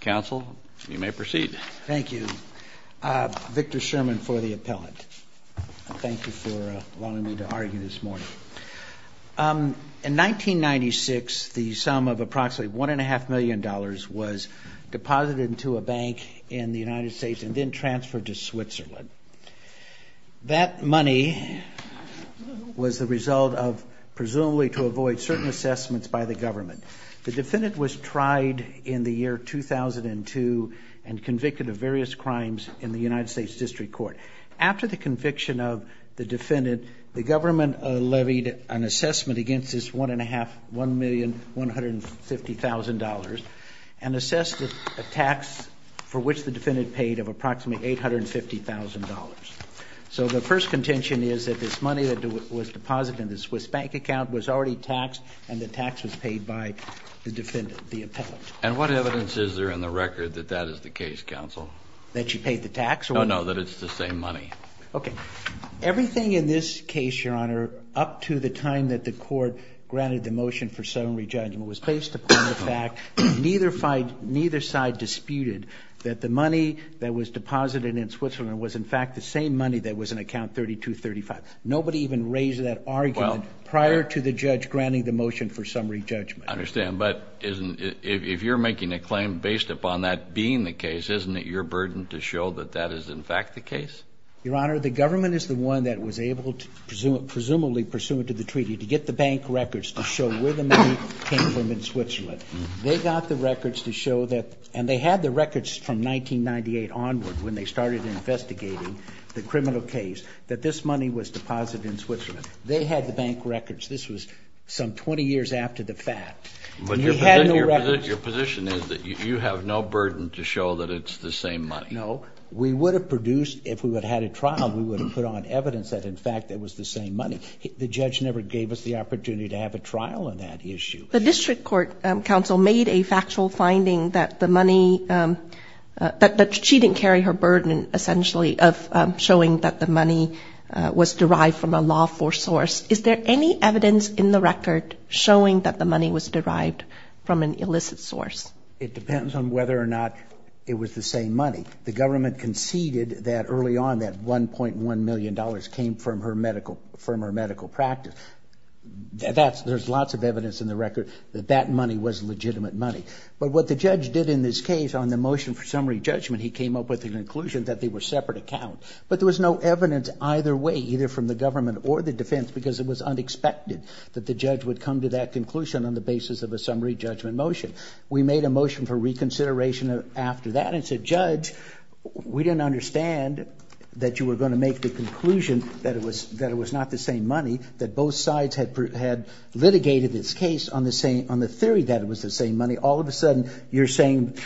Council, you may proceed. Thank you. Victor Sherman for the appellant. Thank you for allowing me to argue this morning. In 1996 the sum of approximately one and a half million dollars was deposited into a bank in the United States and then transferred to Switzerland. That money was the result of presumably to avoid certain assessments by the government. The defendant was tried in the year 2002 and convicted of various crimes in the United States District Court. After the conviction of the defendant, the government levied an assessment against this one and a half, one million, one hundred and fifty thousand dollars and assessed a tax for which the defendant paid of approximately eight hundred and fifty thousand dollars. So the first contention is that this money that was deposited in the Swiss bank account was already taxed and the appellant. And what evidence is there in the record that that is the case, counsel? That she paid the tax? Oh no, that it's the same money. Okay. Everything in this case, your honor, up to the time that the court granted the motion for summary judgment was based upon the fact that neither side disputed that the money that was deposited in Switzerland was in fact the same money that was in account 3235. Nobody even raised that argument prior to the judge granting the If you're making a claim based upon that being the case, isn't it your burden to show that that is in fact the case? Your honor, the government is the one that was able to presume, presumably pursuant to the treaty, to get the bank records to show where the money came from in Switzerland. They got the records to show that, and they had the records from 1998 onward when they started investigating the criminal case, that this money was deposited in Switzerland. They had the Your position is that you have no burden to show that it's the same money? No. We would have produced, if we would have had a trial, we would have put on evidence that in fact it was the same money. The judge never gave us the opportunity to have a trial on that issue. The district court, counsel, made a factual finding that the money, that she didn't carry her burden, essentially, of showing that the money was derived from a lawful source. Is there any evidence in the record showing that the money was derived from an illicit source? It depends on whether or not it was the same money. The government conceded that early on, that 1.1 million dollars came from her medical, from her medical practice. That's, there's lots of evidence in the record that that money was legitimate money. But what the judge did in this case on the motion for summary judgment, he came up with the conclusion that they were separate accounts, but there was no evidence either way, either from the government or the defense, because it was come to that conclusion on the basis of a summary judgment motion. We made a motion for reconsideration after that and said, Judge, we didn't understand that you were going to make the conclusion that it was, that it was not the same money, that both sides had, had litigated this case on the same, on the theory that it was the same money. All of a sudden, you're saying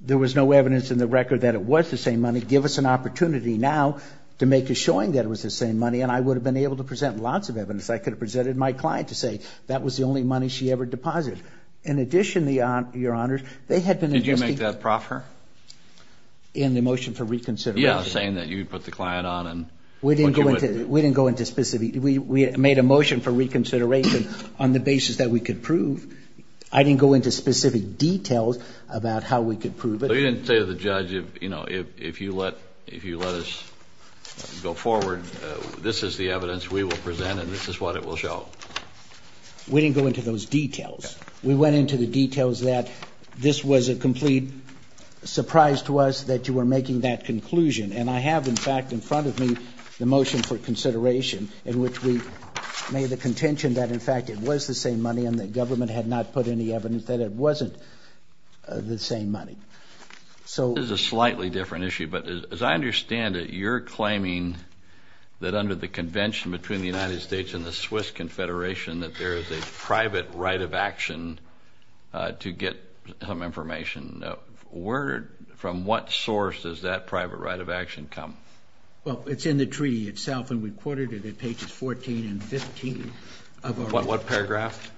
there was no evidence in the record that it was the same money. Give us an opportunity now to make a showing that it was the same money, and I would have been able to present lots of clients to say that was the only money she ever deposited. In addition, the, Your Honor, they had been... Did you make that proffer? In the motion for reconsideration? Yeah, saying that you put the client on and... We didn't go into, we didn't go into specific... We made a motion for reconsideration on the basis that we could prove. I didn't go into specific details about how we could prove it. But you didn't say to the judge, you know, if you let, if you let us go we didn't go into those details. We went into the details that this was a complete surprise to us that you were making that conclusion. And I have, in fact, in front of me the motion for consideration in which we made the contention that, in fact, it was the same money and that government had not put any evidence that it wasn't the same money. So... This is a slightly different issue, but as I understand it, you're claiming that under the convention between the United States and the Swiss Confederation that there is a private right of action to get some information. Where, from what source does that private right of action come? Well, it's in the treaty itself and we quoted it at pages 14 and 15 of our... What paragraph?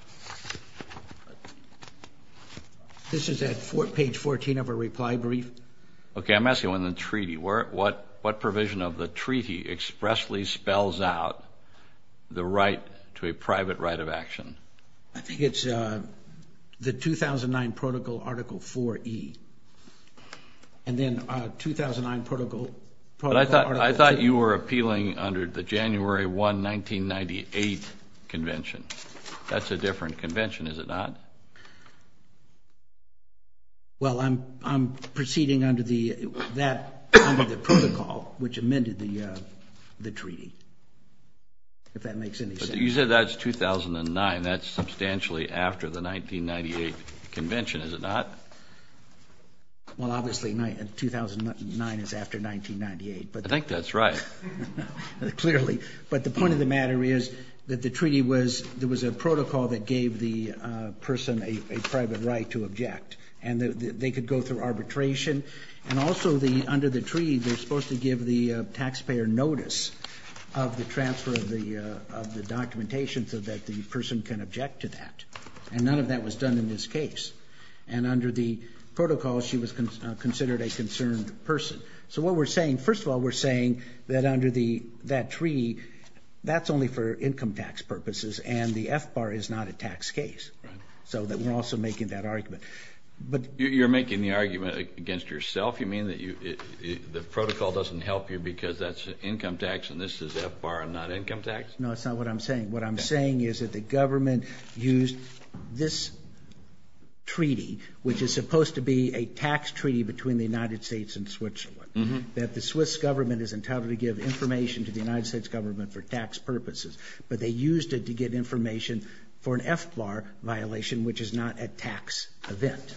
This is at page 14 of a reply brief. Okay, I'm asking when the treaty, where, what, what provision of the treaty expressly spells out the right to a private right of action? I think it's the 2009 Protocol Article 4E. And then 2009 Protocol... But I thought you were appealing under the January 1, 1998 convention. That's a different convention, is it not? Well, I'm not sure if that makes any sense. But you said that's 2009. That's substantially after the 1998 convention, is it not? Well, obviously 2009 is after 1998, but... I think that's right. Clearly. But the point of the matter is that the treaty was, there was a protocol that gave the person a private right to object and that they could go through arbitration. And also the, under the treaty, they're required to transfer the documentation so that the person can object to that. And none of that was done in this case. And under the protocol, she was considered a concerned person. So what we're saying, first of all, we're saying that under that treaty, that's only for income tax purposes and the F-bar is not a tax case. Right. So that we're also making that argument. But... You're making the argument against yourself? You mean that the protocol doesn't help you because that's income tax and this is F-bar and not income tax? No, that's not what I'm saying. What I'm saying is that the government used this treaty, which is supposed to be a tax treaty between the United States and Switzerland. That the Swiss government is entitled to give information to the United States government for tax purposes. But they used it to get information for an F-bar violation, which is not a tax event.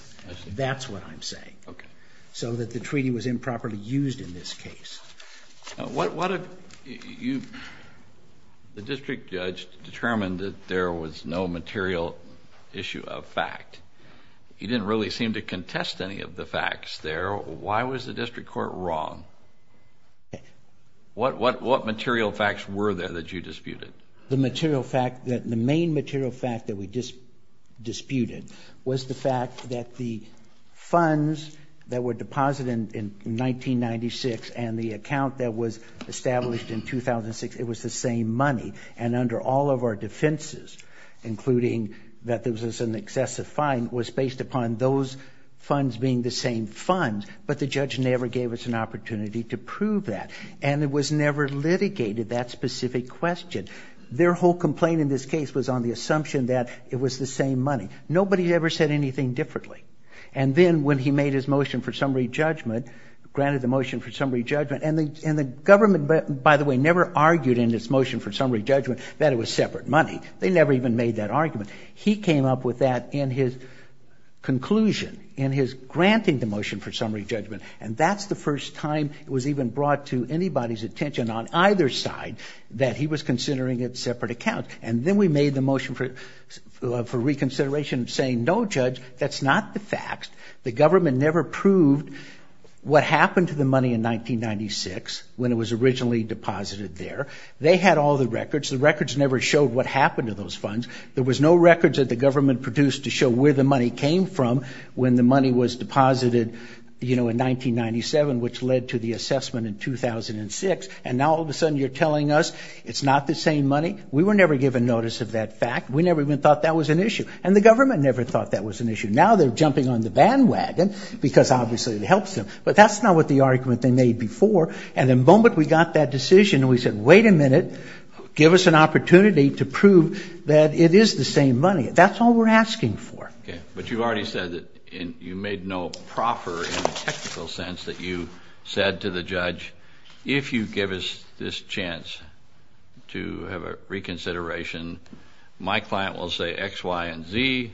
That's what I'm saying. Okay. So that the What... The district judge determined that there was no material issue of fact. He didn't really seem to contest any of the facts there. Why was the district court wrong? What material facts were there that you disputed? The material fact that the main material fact that we just disputed was the fact that the was established in 2006. It was the same money. And under all of our defenses, including that there was an excessive fine, was based upon those funds being the same funds. But the judge never gave us an opportunity to prove that. And it was never litigated, that specific question. Their whole complaint in this case was on the assumption that it was the same money. Nobody ever said anything differently. And then when he made his motion for summary judgment, granted the government, by the way, never argued in this motion for summary judgment that it was separate money. They never even made that argument. He came up with that in his conclusion, in his granting the motion for summary judgment. And that's the first time it was even brought to anybody's attention on either side that he was considering it separate accounts. And then we made the motion for reconsideration saying, no judge, that's not the facts. The government never proved what happened to the money in 1996 when it was originally deposited there. They had all the records. The records never showed what happened to those funds. There was no records that the government produced to show where the money came from when the money was deposited, you know, in 1997, which led to the assessment in 2006. And now all of a sudden you're telling us it's not the same money? We were never given notice of that fact. We never even thought that was an issue. And the government never thought that was an issue. Now they're dumping on the bandwagon because obviously it helps them. But that's not what the argument they made before. And the moment we got that decision and we said, wait a minute, give us an opportunity to prove that it is the same money. That's all we're asking for. But you've already said that you made no proper technical sense that you said to the judge, if you give us this chance to have a reconsideration, my client will say X, Y, and Z,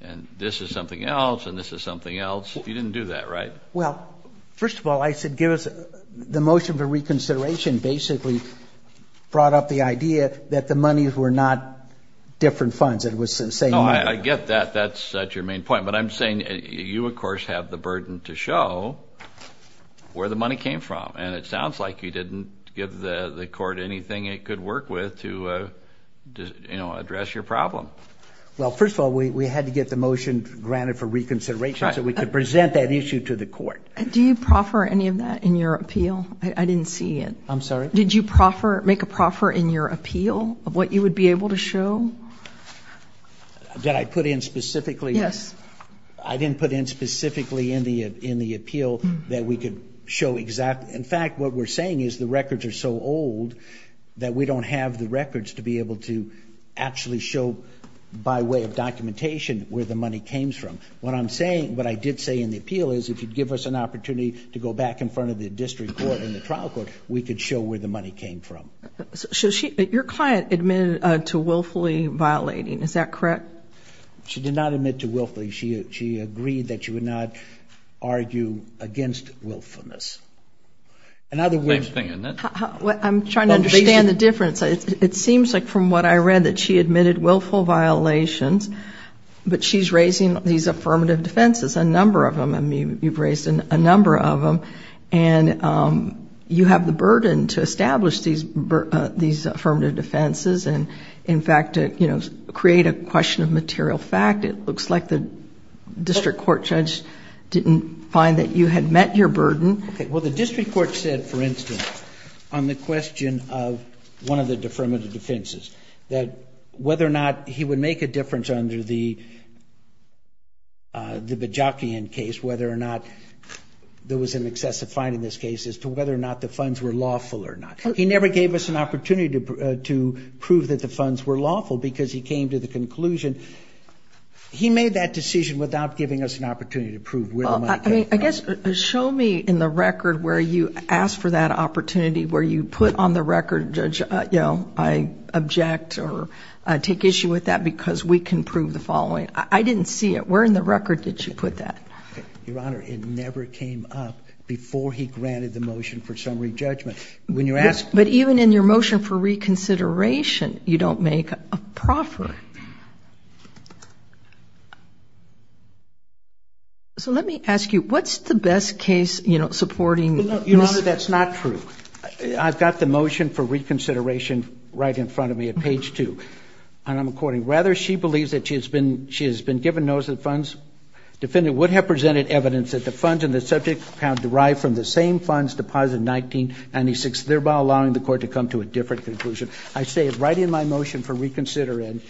and this is something else, and this is something else. You didn't do that, right? Well, first of all, I said give us the motion for reconsideration basically brought up the idea that the money were not different funds. It was the same money. I get that. That's your main point. But I'm saying you, of course, have the burden to show where the money came from. And it sounds like you didn't give the court anything it could work with to, you know, address your problem. Well, first of all, we had to get the motion granted for reconsideration so we could present that issue to the court. Do you proffer any of that in your appeal? I didn't see it. I'm sorry? Did you proffer, make a proffer in your appeal of what you would be able to show? That I put in specifically? Yes. I didn't put in specifically in the in the appeal that we could show exactly. In fact, what we're saying is the records are so old that we don't have the records to be able to actually show by way of the money came from. What I'm saying, what I did say in the appeal is if you give us an opportunity to go back in front of the district court and the trial court, we could show where the money came from. So your client admitted to willfully violating, is that correct? She did not admit to willfully. She agreed that you would not argue against willfulness. I'm trying to understand the difference. It seems like from what I read that she admitted willful violations, but she's raising these affirmative defenses, a number of them. I mean, you've raised a number of them, and you have the burden to establish these affirmative defenses, and in fact, you know, create a question of material fact. It looks like the district court judge didn't find that you had met your burden. Okay, well, the district court said, for instance, on the question of one of the affirmative defenses, that whether or not he would make a difference under the Bajakian case, whether or not there was an excessive fine in this case, as to whether or not the funds were lawful or not. He never gave us an opportunity to prove that the funds were lawful, because he came to the conclusion, he made that decision without giving us an opportunity to prove where the money came from. I guess, show me in the record where you asked for that opportunity, where you put on the record, judge, you know, I object or take issue with that because we can prove the following. I didn't see it. Where in the record did you put that? Your Honor, it never came up before he granted the motion for summary judgment. When you're asking... But even in your motion for reconsideration, you don't make a proffer. So let me ask you, what's the best case, you know, supporting... Your Honor, that's not true. I've got the motion for reconsideration right in front of me at page 2, and I'm quoting, rather she believes that she has been given notice of the funds, defendant would have presented evidence that the funds in the subject account derived from the same funds deposited in 1996, thereby allowing the court to come to a different conclusion. I say it right in my motion for reconsideration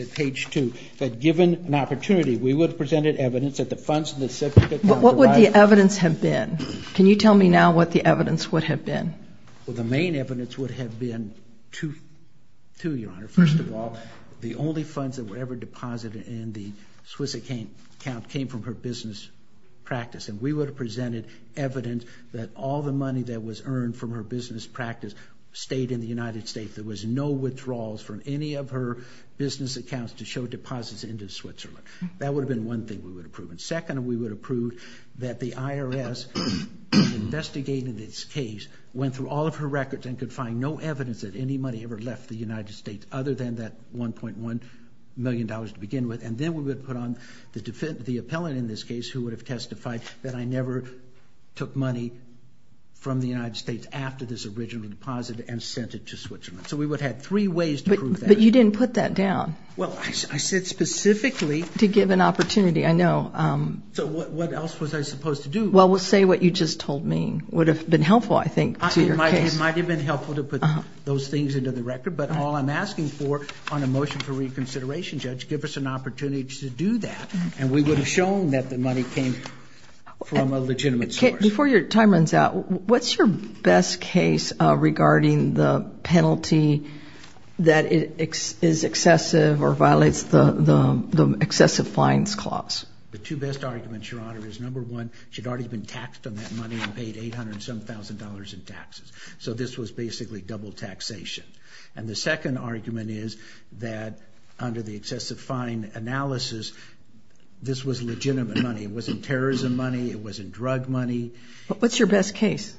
at page 2, that given an opportunity, we would have presented evidence that the What would the evidence have been? Can you tell me now what the evidence would have been? Well, the main evidence would have been two, Your Honor. First of all, the only funds that were ever deposited in the Swiss account came from her business practice, and we would have presented evidence that all the money that was earned from her business practice stayed in the United States. There was no withdrawals from any of her business accounts to show deposits into Switzerland. That would have been one thing we would have proven. Second, we would have proved that the IRS investigated this case, went through all of her records, and could find no evidence that any money ever left the United States other than that 1.1 million dollars to begin with, and then we would put on the defendant, the appellant in this case, who would have testified that I never took money from the United States after this original deposit and sent it to Switzerland. So we would have had three ways to prove that. But you didn't put that down. Well, I said specifically... To give an opportunity, I know. So what else was I supposed to do? Well, say what you just told me would have been helpful, I think, to your case. It might have been helpful to put those things into the record, but all I'm asking for on a motion for reconsideration, Judge, give us an opportunity to do that, and we would have shown that the money came from a legitimate source. Before your time runs out, what's your best case regarding the or violates the excessive fines clause? The two best arguments, Your Honor, is number one, she'd already been taxed on that money and paid $807,000 in taxes. So this was basically double taxation. And the second argument is that under the excessive fine analysis, this was legitimate money. It wasn't terrorism money. It wasn't drug money. What's your best case?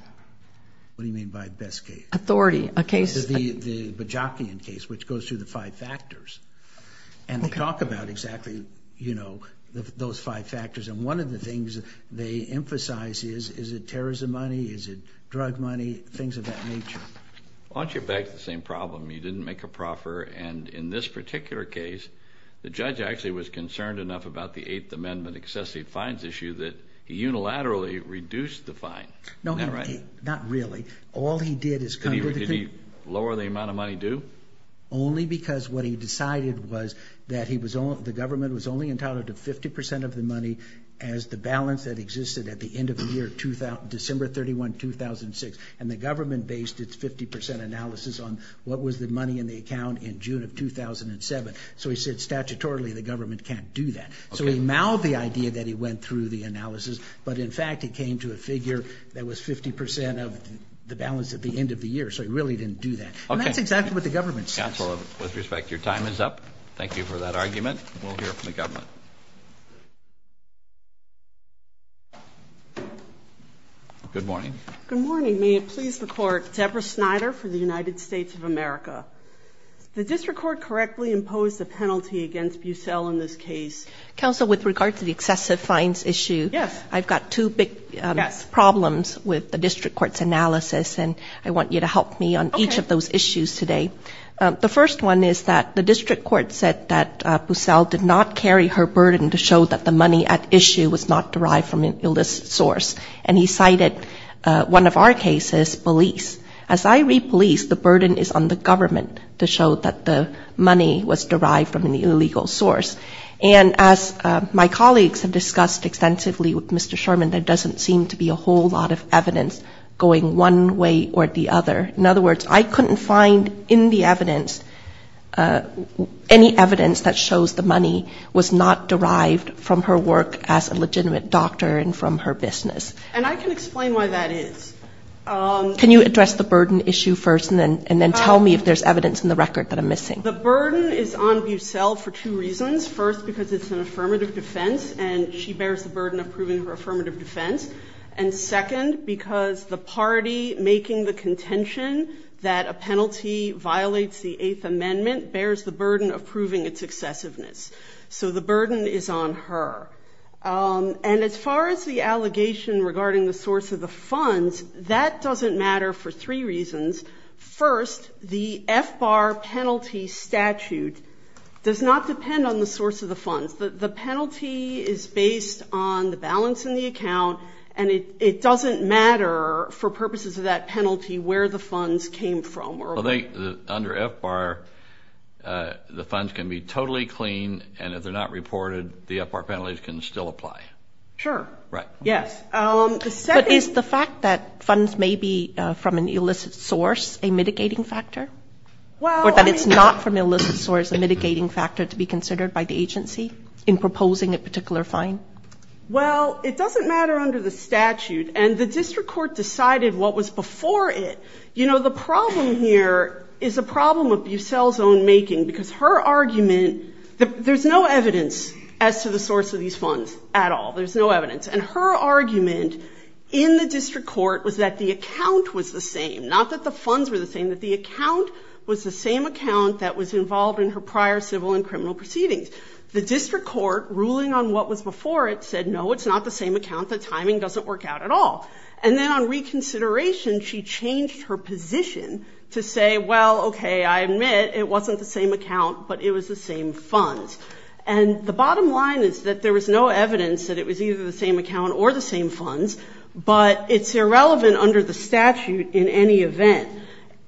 What do you mean by best case? Authority. A case... The Bajakian case, which goes through the five factors. And we talk about exactly, you know, those five factors. And one of the things they emphasize is, is it terrorism money? Is it drug money? Things of that nature. Well, aren't you back to the same problem? You didn't make a proffer. And in this particular case, the judge actually was concerned enough about the Eighth Amendment excessive fines issue that he unilaterally reduced the fine. No, not really. All he did is... Did he lower the amount of money due? Only because what he decided was that he was... the government was only entitled to 50% of the money as the balance that existed at the end of the year, December 31, 2006. And the government based its 50% analysis on what was the money in the account in June of 2007. So he said, statutorily, the government can't do that. So he mouthed the idea that he went through the analysis. But in fact, it came to a figure that was 50% of the balance at the end of the year. So he really didn't do that. Okay. And that's exactly what the government says. Counselor, with respect, your time is up. Thank you for that argument. We'll hear from the government. Good morning. Good morning. May it please the Court, Deborah Snyder for the United States of America. The district court correctly imposed a penalty against Bussell in this case. Counsel, with regard to the excessive fines issue, I've got two big problems with the district court's analysis. And I want you to help me on each of those issues today. The first one is that the district court said that Bussell did not carry her burden to show that the money at issue was not derived from an illicit source. And he cited one of our cases, police. As I read police, the burden is on the government to show that the money was derived from an illegal source. And as my colleagues have discussed extensively with Mr. Sherman, there doesn't seem to be a whole lot of evidence going one way or the other. In other words, I couldn't find in the evidence any evidence that shows the money was not derived from her work as a legitimate doctor and from her business. And I can explain why that is. Can you address the burden issue first and then tell me if there's evidence in the record that I'm The burden is on Bussell for two reasons. First, because it's an affirmative defense and she bears the burden of proving her affirmative defense. And second, because the party making the contention that a penalty violates the Eighth Amendment bears the burden of proving its excessiveness. So the burden is on her. And as far as the allegation regarding the source of the funds, that doesn't matter for three reasons. First, the FBAR penalty statute does not depend on the source of the funds. The penalty is based on the balance in the account and it doesn't matter for purposes of that penalty where the funds came from. Under FBAR, the funds can be totally clean and if they're not reported, the FBAR penalties can still apply. Sure. Right. Yes. But is the fact that funds may be from an illicit source a mitigating factor? Or that it's not from an illicit source a mitigating factor to be considered by the agency in proposing a particular fine? Well, it doesn't matter under the statute and the district court decided what was before it. You know, the problem here is a problem of Bussell's own making because her argument, there's no evidence as to the source of these funds at all. There's no evidence. And her argument in the district court was that the account was the same, not that the funds were the same, that the account was the same account that was involved in her prior civil and criminal proceedings. The district court ruling on what was before it said, no, it's not the same account. The timing doesn't work out at all. And then on reconsideration, she changed her position to say, well, okay, I admit it wasn't the same account, but it was the same funds. And the bottom line is that there was no evidence that it was either the same account or the same funds, but it's irrelevant under the statute in any event.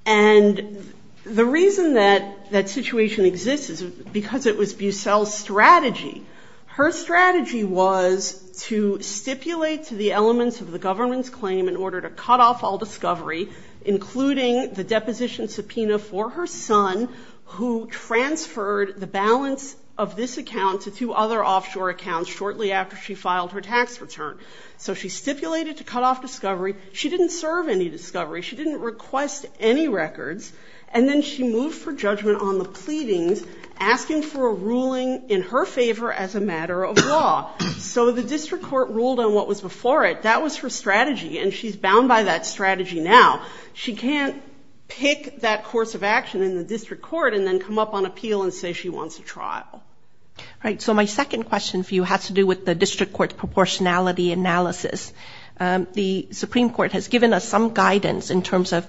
And the reason that situation exists is because it was Bussell's strategy. Her strategy was to stipulate to the elements of the government's claim in order to cut off all discovery, including the deposition subpoena for her son, who transferred the balance of this account to two other offshore accounts shortly after she filed her tax return. So she stipulated to cut off discovery. She didn't serve any discovery. She didn't request any records. And then she moved for judgment on the pleadings, asking for a ruling in her favor as a matter of law. So the district court ruled on what was before it. That was her strategy. And she's bound by that strategy now. She can't pick that course of action in the district court and then come up on appeal and say she wants a trial. All right. So my second question for you has to do with the district court's proportionality analysis. The Supreme Court has given us some guidance in terms of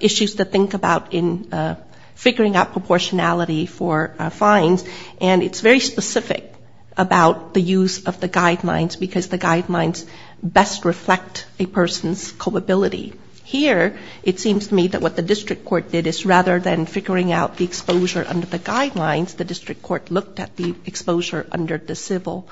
issues to think about in figuring out proportionality for fines. And it's very specific about the use of the guidelines because the guidelines best reflect a person's culpability. Here, it seems to me that what the district court did is rather than figuring out the exposure under the guidelines, the district court looked at the exposure under the civil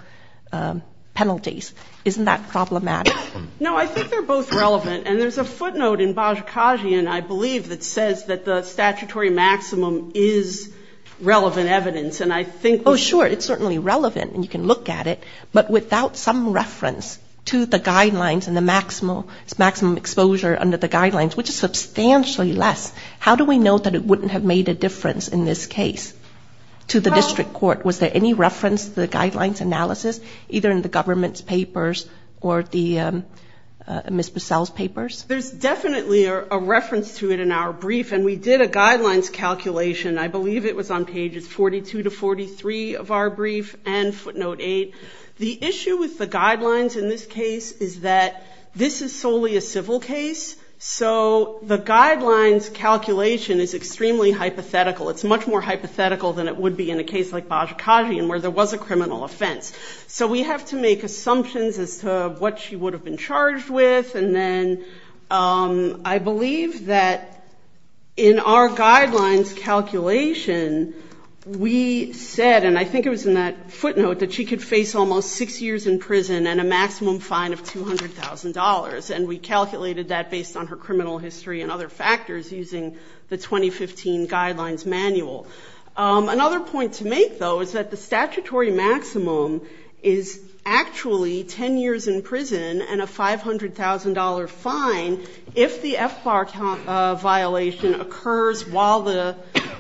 penalties. Isn't that problematic? No, I think they're both relevant. And there's a footnote in Bajikajian, I believe, that says that the statutory maximum is relevant evidence. And I think Oh, sure. It's certainly relevant. And you can look at it. But without some reference to the guidelines and the maximum exposure under the guidelines, which is substantially less, how do we know that it wouldn't have made a difference in this case to the district court? To the district court, was there any reference to the guidelines analysis, either in the government's papers or Ms. Bussell's papers? There's definitely a reference to it in our brief. And we did a guidelines calculation. I believe it was on pages 42 to 43 of our brief and footnote 8. The issue with the guidelines in this case is that this is solely a civil case. So the guidelines calculation is extremely hypothetical. It's much more like Bajikajian where there was a criminal offense. So we have to make assumptions as to what she would have been charged with. And then I believe that in our guidelines calculation, we said, and I think it was in that footnote, that she could face almost six years in prison and a maximum fine of $200,000. And we calculated that based on her criminal history and other I think, though, is that the statutory maximum is actually 10 years in prison and a $500,000 fine if the FBAR violation occurs while the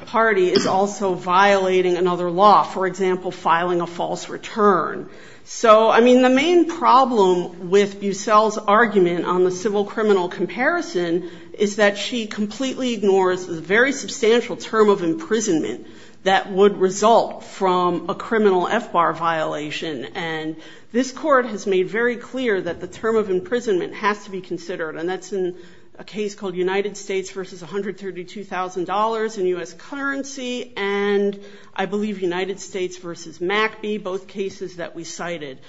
party is also violating another law, for example, filing a false return. So, I mean, the main problem with Bussell's argument on the civil criminal comparison is that she completely ignores the very substantial term of imprisonment that would result from a criminal FBAR violation. And this court has made very clear that the term of imprisonment has to be considered. And that's in a case called United States versus $132,000 in U.S. currency and I believe United States versus MACB, both cases that we cited.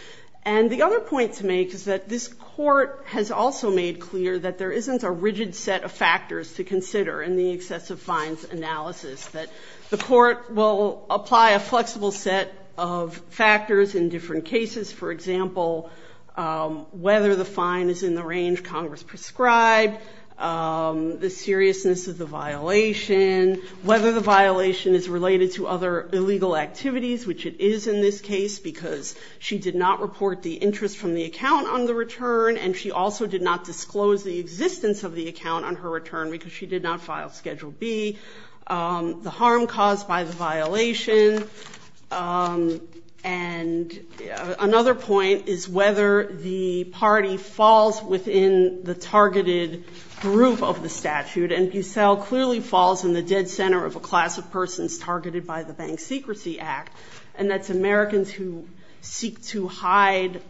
And the other point to make is that this court has also made clear that there isn't a rigid set of factors to apply a flexible set of factors in different cases. For example, whether the fine is in the range Congress prescribed, the seriousness of the violation, whether the violation is related to other illegal activities, which it is in this case because she did not report the interest from the account on the return and she also did not disclose the existence of the account on her return because she did not file Schedule B, the harm caused by the violation, and another point is whether the party falls within the targeted group of the statute and Bussell clearly falls in the dead center of a class of persons targeted by the Bank Secrecy Act and that's Americans who seek to hide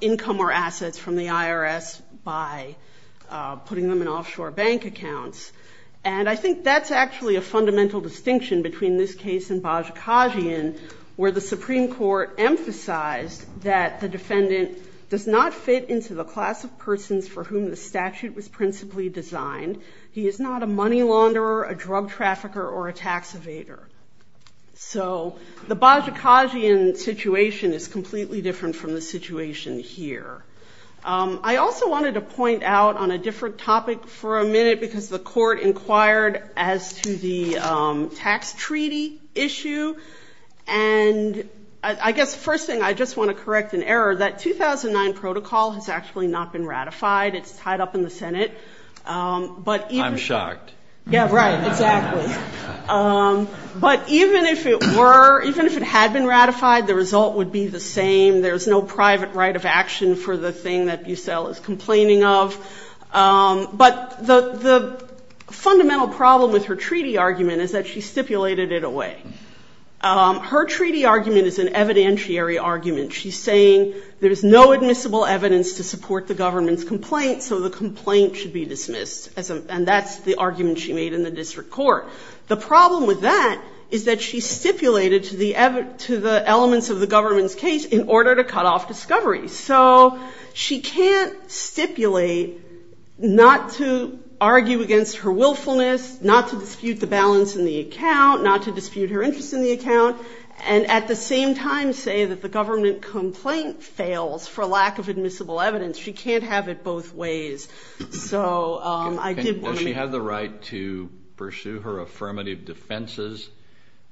income or assets from the IRS by putting them in offshore bank accounts and I think that's actually a fundamental distinction between this case and Bajikasian where the Supreme Court emphasized that the defendant does not fit into the class of persons for whom the statute was principally designed. He is not a money launderer, a drug trafficker, or a tax evader. So the Bajikasian situation is I also wanted to point out on a different topic for a minute because the court inquired as to the tax treaty issue and I guess first thing I just want to correct an error that 2009 protocol has actually not been ratified. It's tied up in the Senate, but I'm shocked. Yeah, right, exactly. But even if it were, even if it had been ratified, the result would be the same. There's no complaining of, but the fundamental problem with her treaty argument is that she stipulated it away. Her treaty argument is an evidentiary argument. She's saying there's no admissible evidence to support the government's complaint, so the complaint should be dismissed and that's the argument she made in the district court. The problem with that is that she stipulated to the elements of the government's case in order to cut off discovery. So she can't stipulate not to argue against her willfulness, not to dispute the balance in the account, not to dispute her interest in the account, and at the same time say that the government complaint fails for lack of admissible evidence. She can't have it both ways. Does she have the right to pursue her affirmative defenses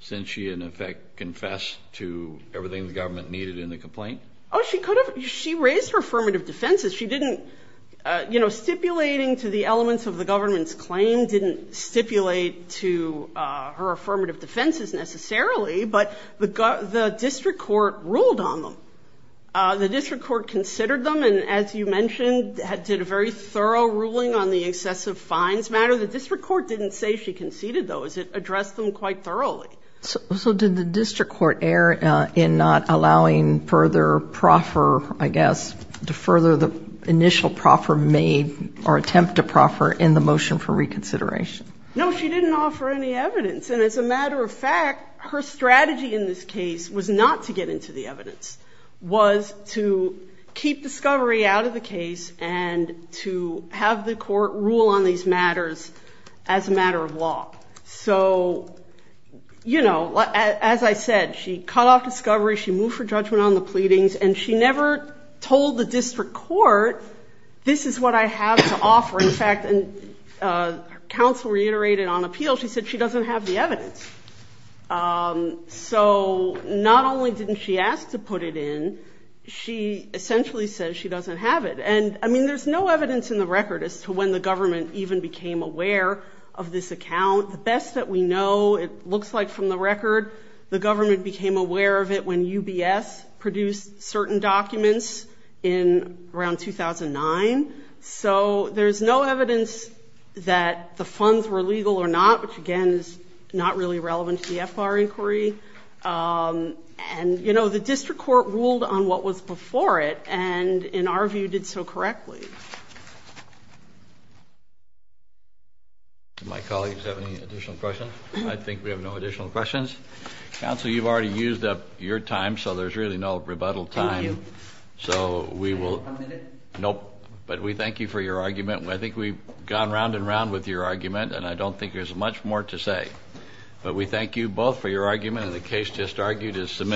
since she in effect confessed to everything the government needed in the complaint? Oh, she could have. She raised her affirmative defenses. She didn't, you know, stipulating to the elements of the government's claim didn't stipulate to her affirmative defenses necessarily, but the district court ruled on them. The district court considered them and, as you mentioned, did a very thorough ruling on the excessive fines matter. The district court didn't say she conceded those. It addressed them quite thoroughly. So did the district court err in not allowing further proffer, I guess, to further the initial proffer made or attempt to proffer in the motion for reconsideration? No, she didn't offer any evidence. And as a matter of fact, her strategy in this case was not to get into the evidence, was to keep discovery out of the case and to have the court rule on these matters as a matter of law. So, you know, as I said, she cut off discovery. She moved for judgment on the pleadings and she never told the district court, this is what I have to offer. In fact, and counsel reiterated on appeal, she said she doesn't have the evidence. So not only didn't she ask to put it in, she essentially says she doesn't have it. And I mean, there's no evidence in the record as to when the account, the best that we know, it looks like from the record, the government became aware of it when UBS produced certain documents in around 2009. So there's no evidence that the funds were legal or not, which again is not really relevant to the FBAR inquiry. And, you know, the district court ruled on what was before it and in our view did so correctly. My colleagues have any additional questions? I think we have no additional questions. Counsel, you've already used up your time. So there's really no rebuttal time. So we will. Nope. But we thank you for your argument. I think we've gone round and round with your argument and I don't think there's much more to say. But we thank you both for your argument. The case just argued is submitted.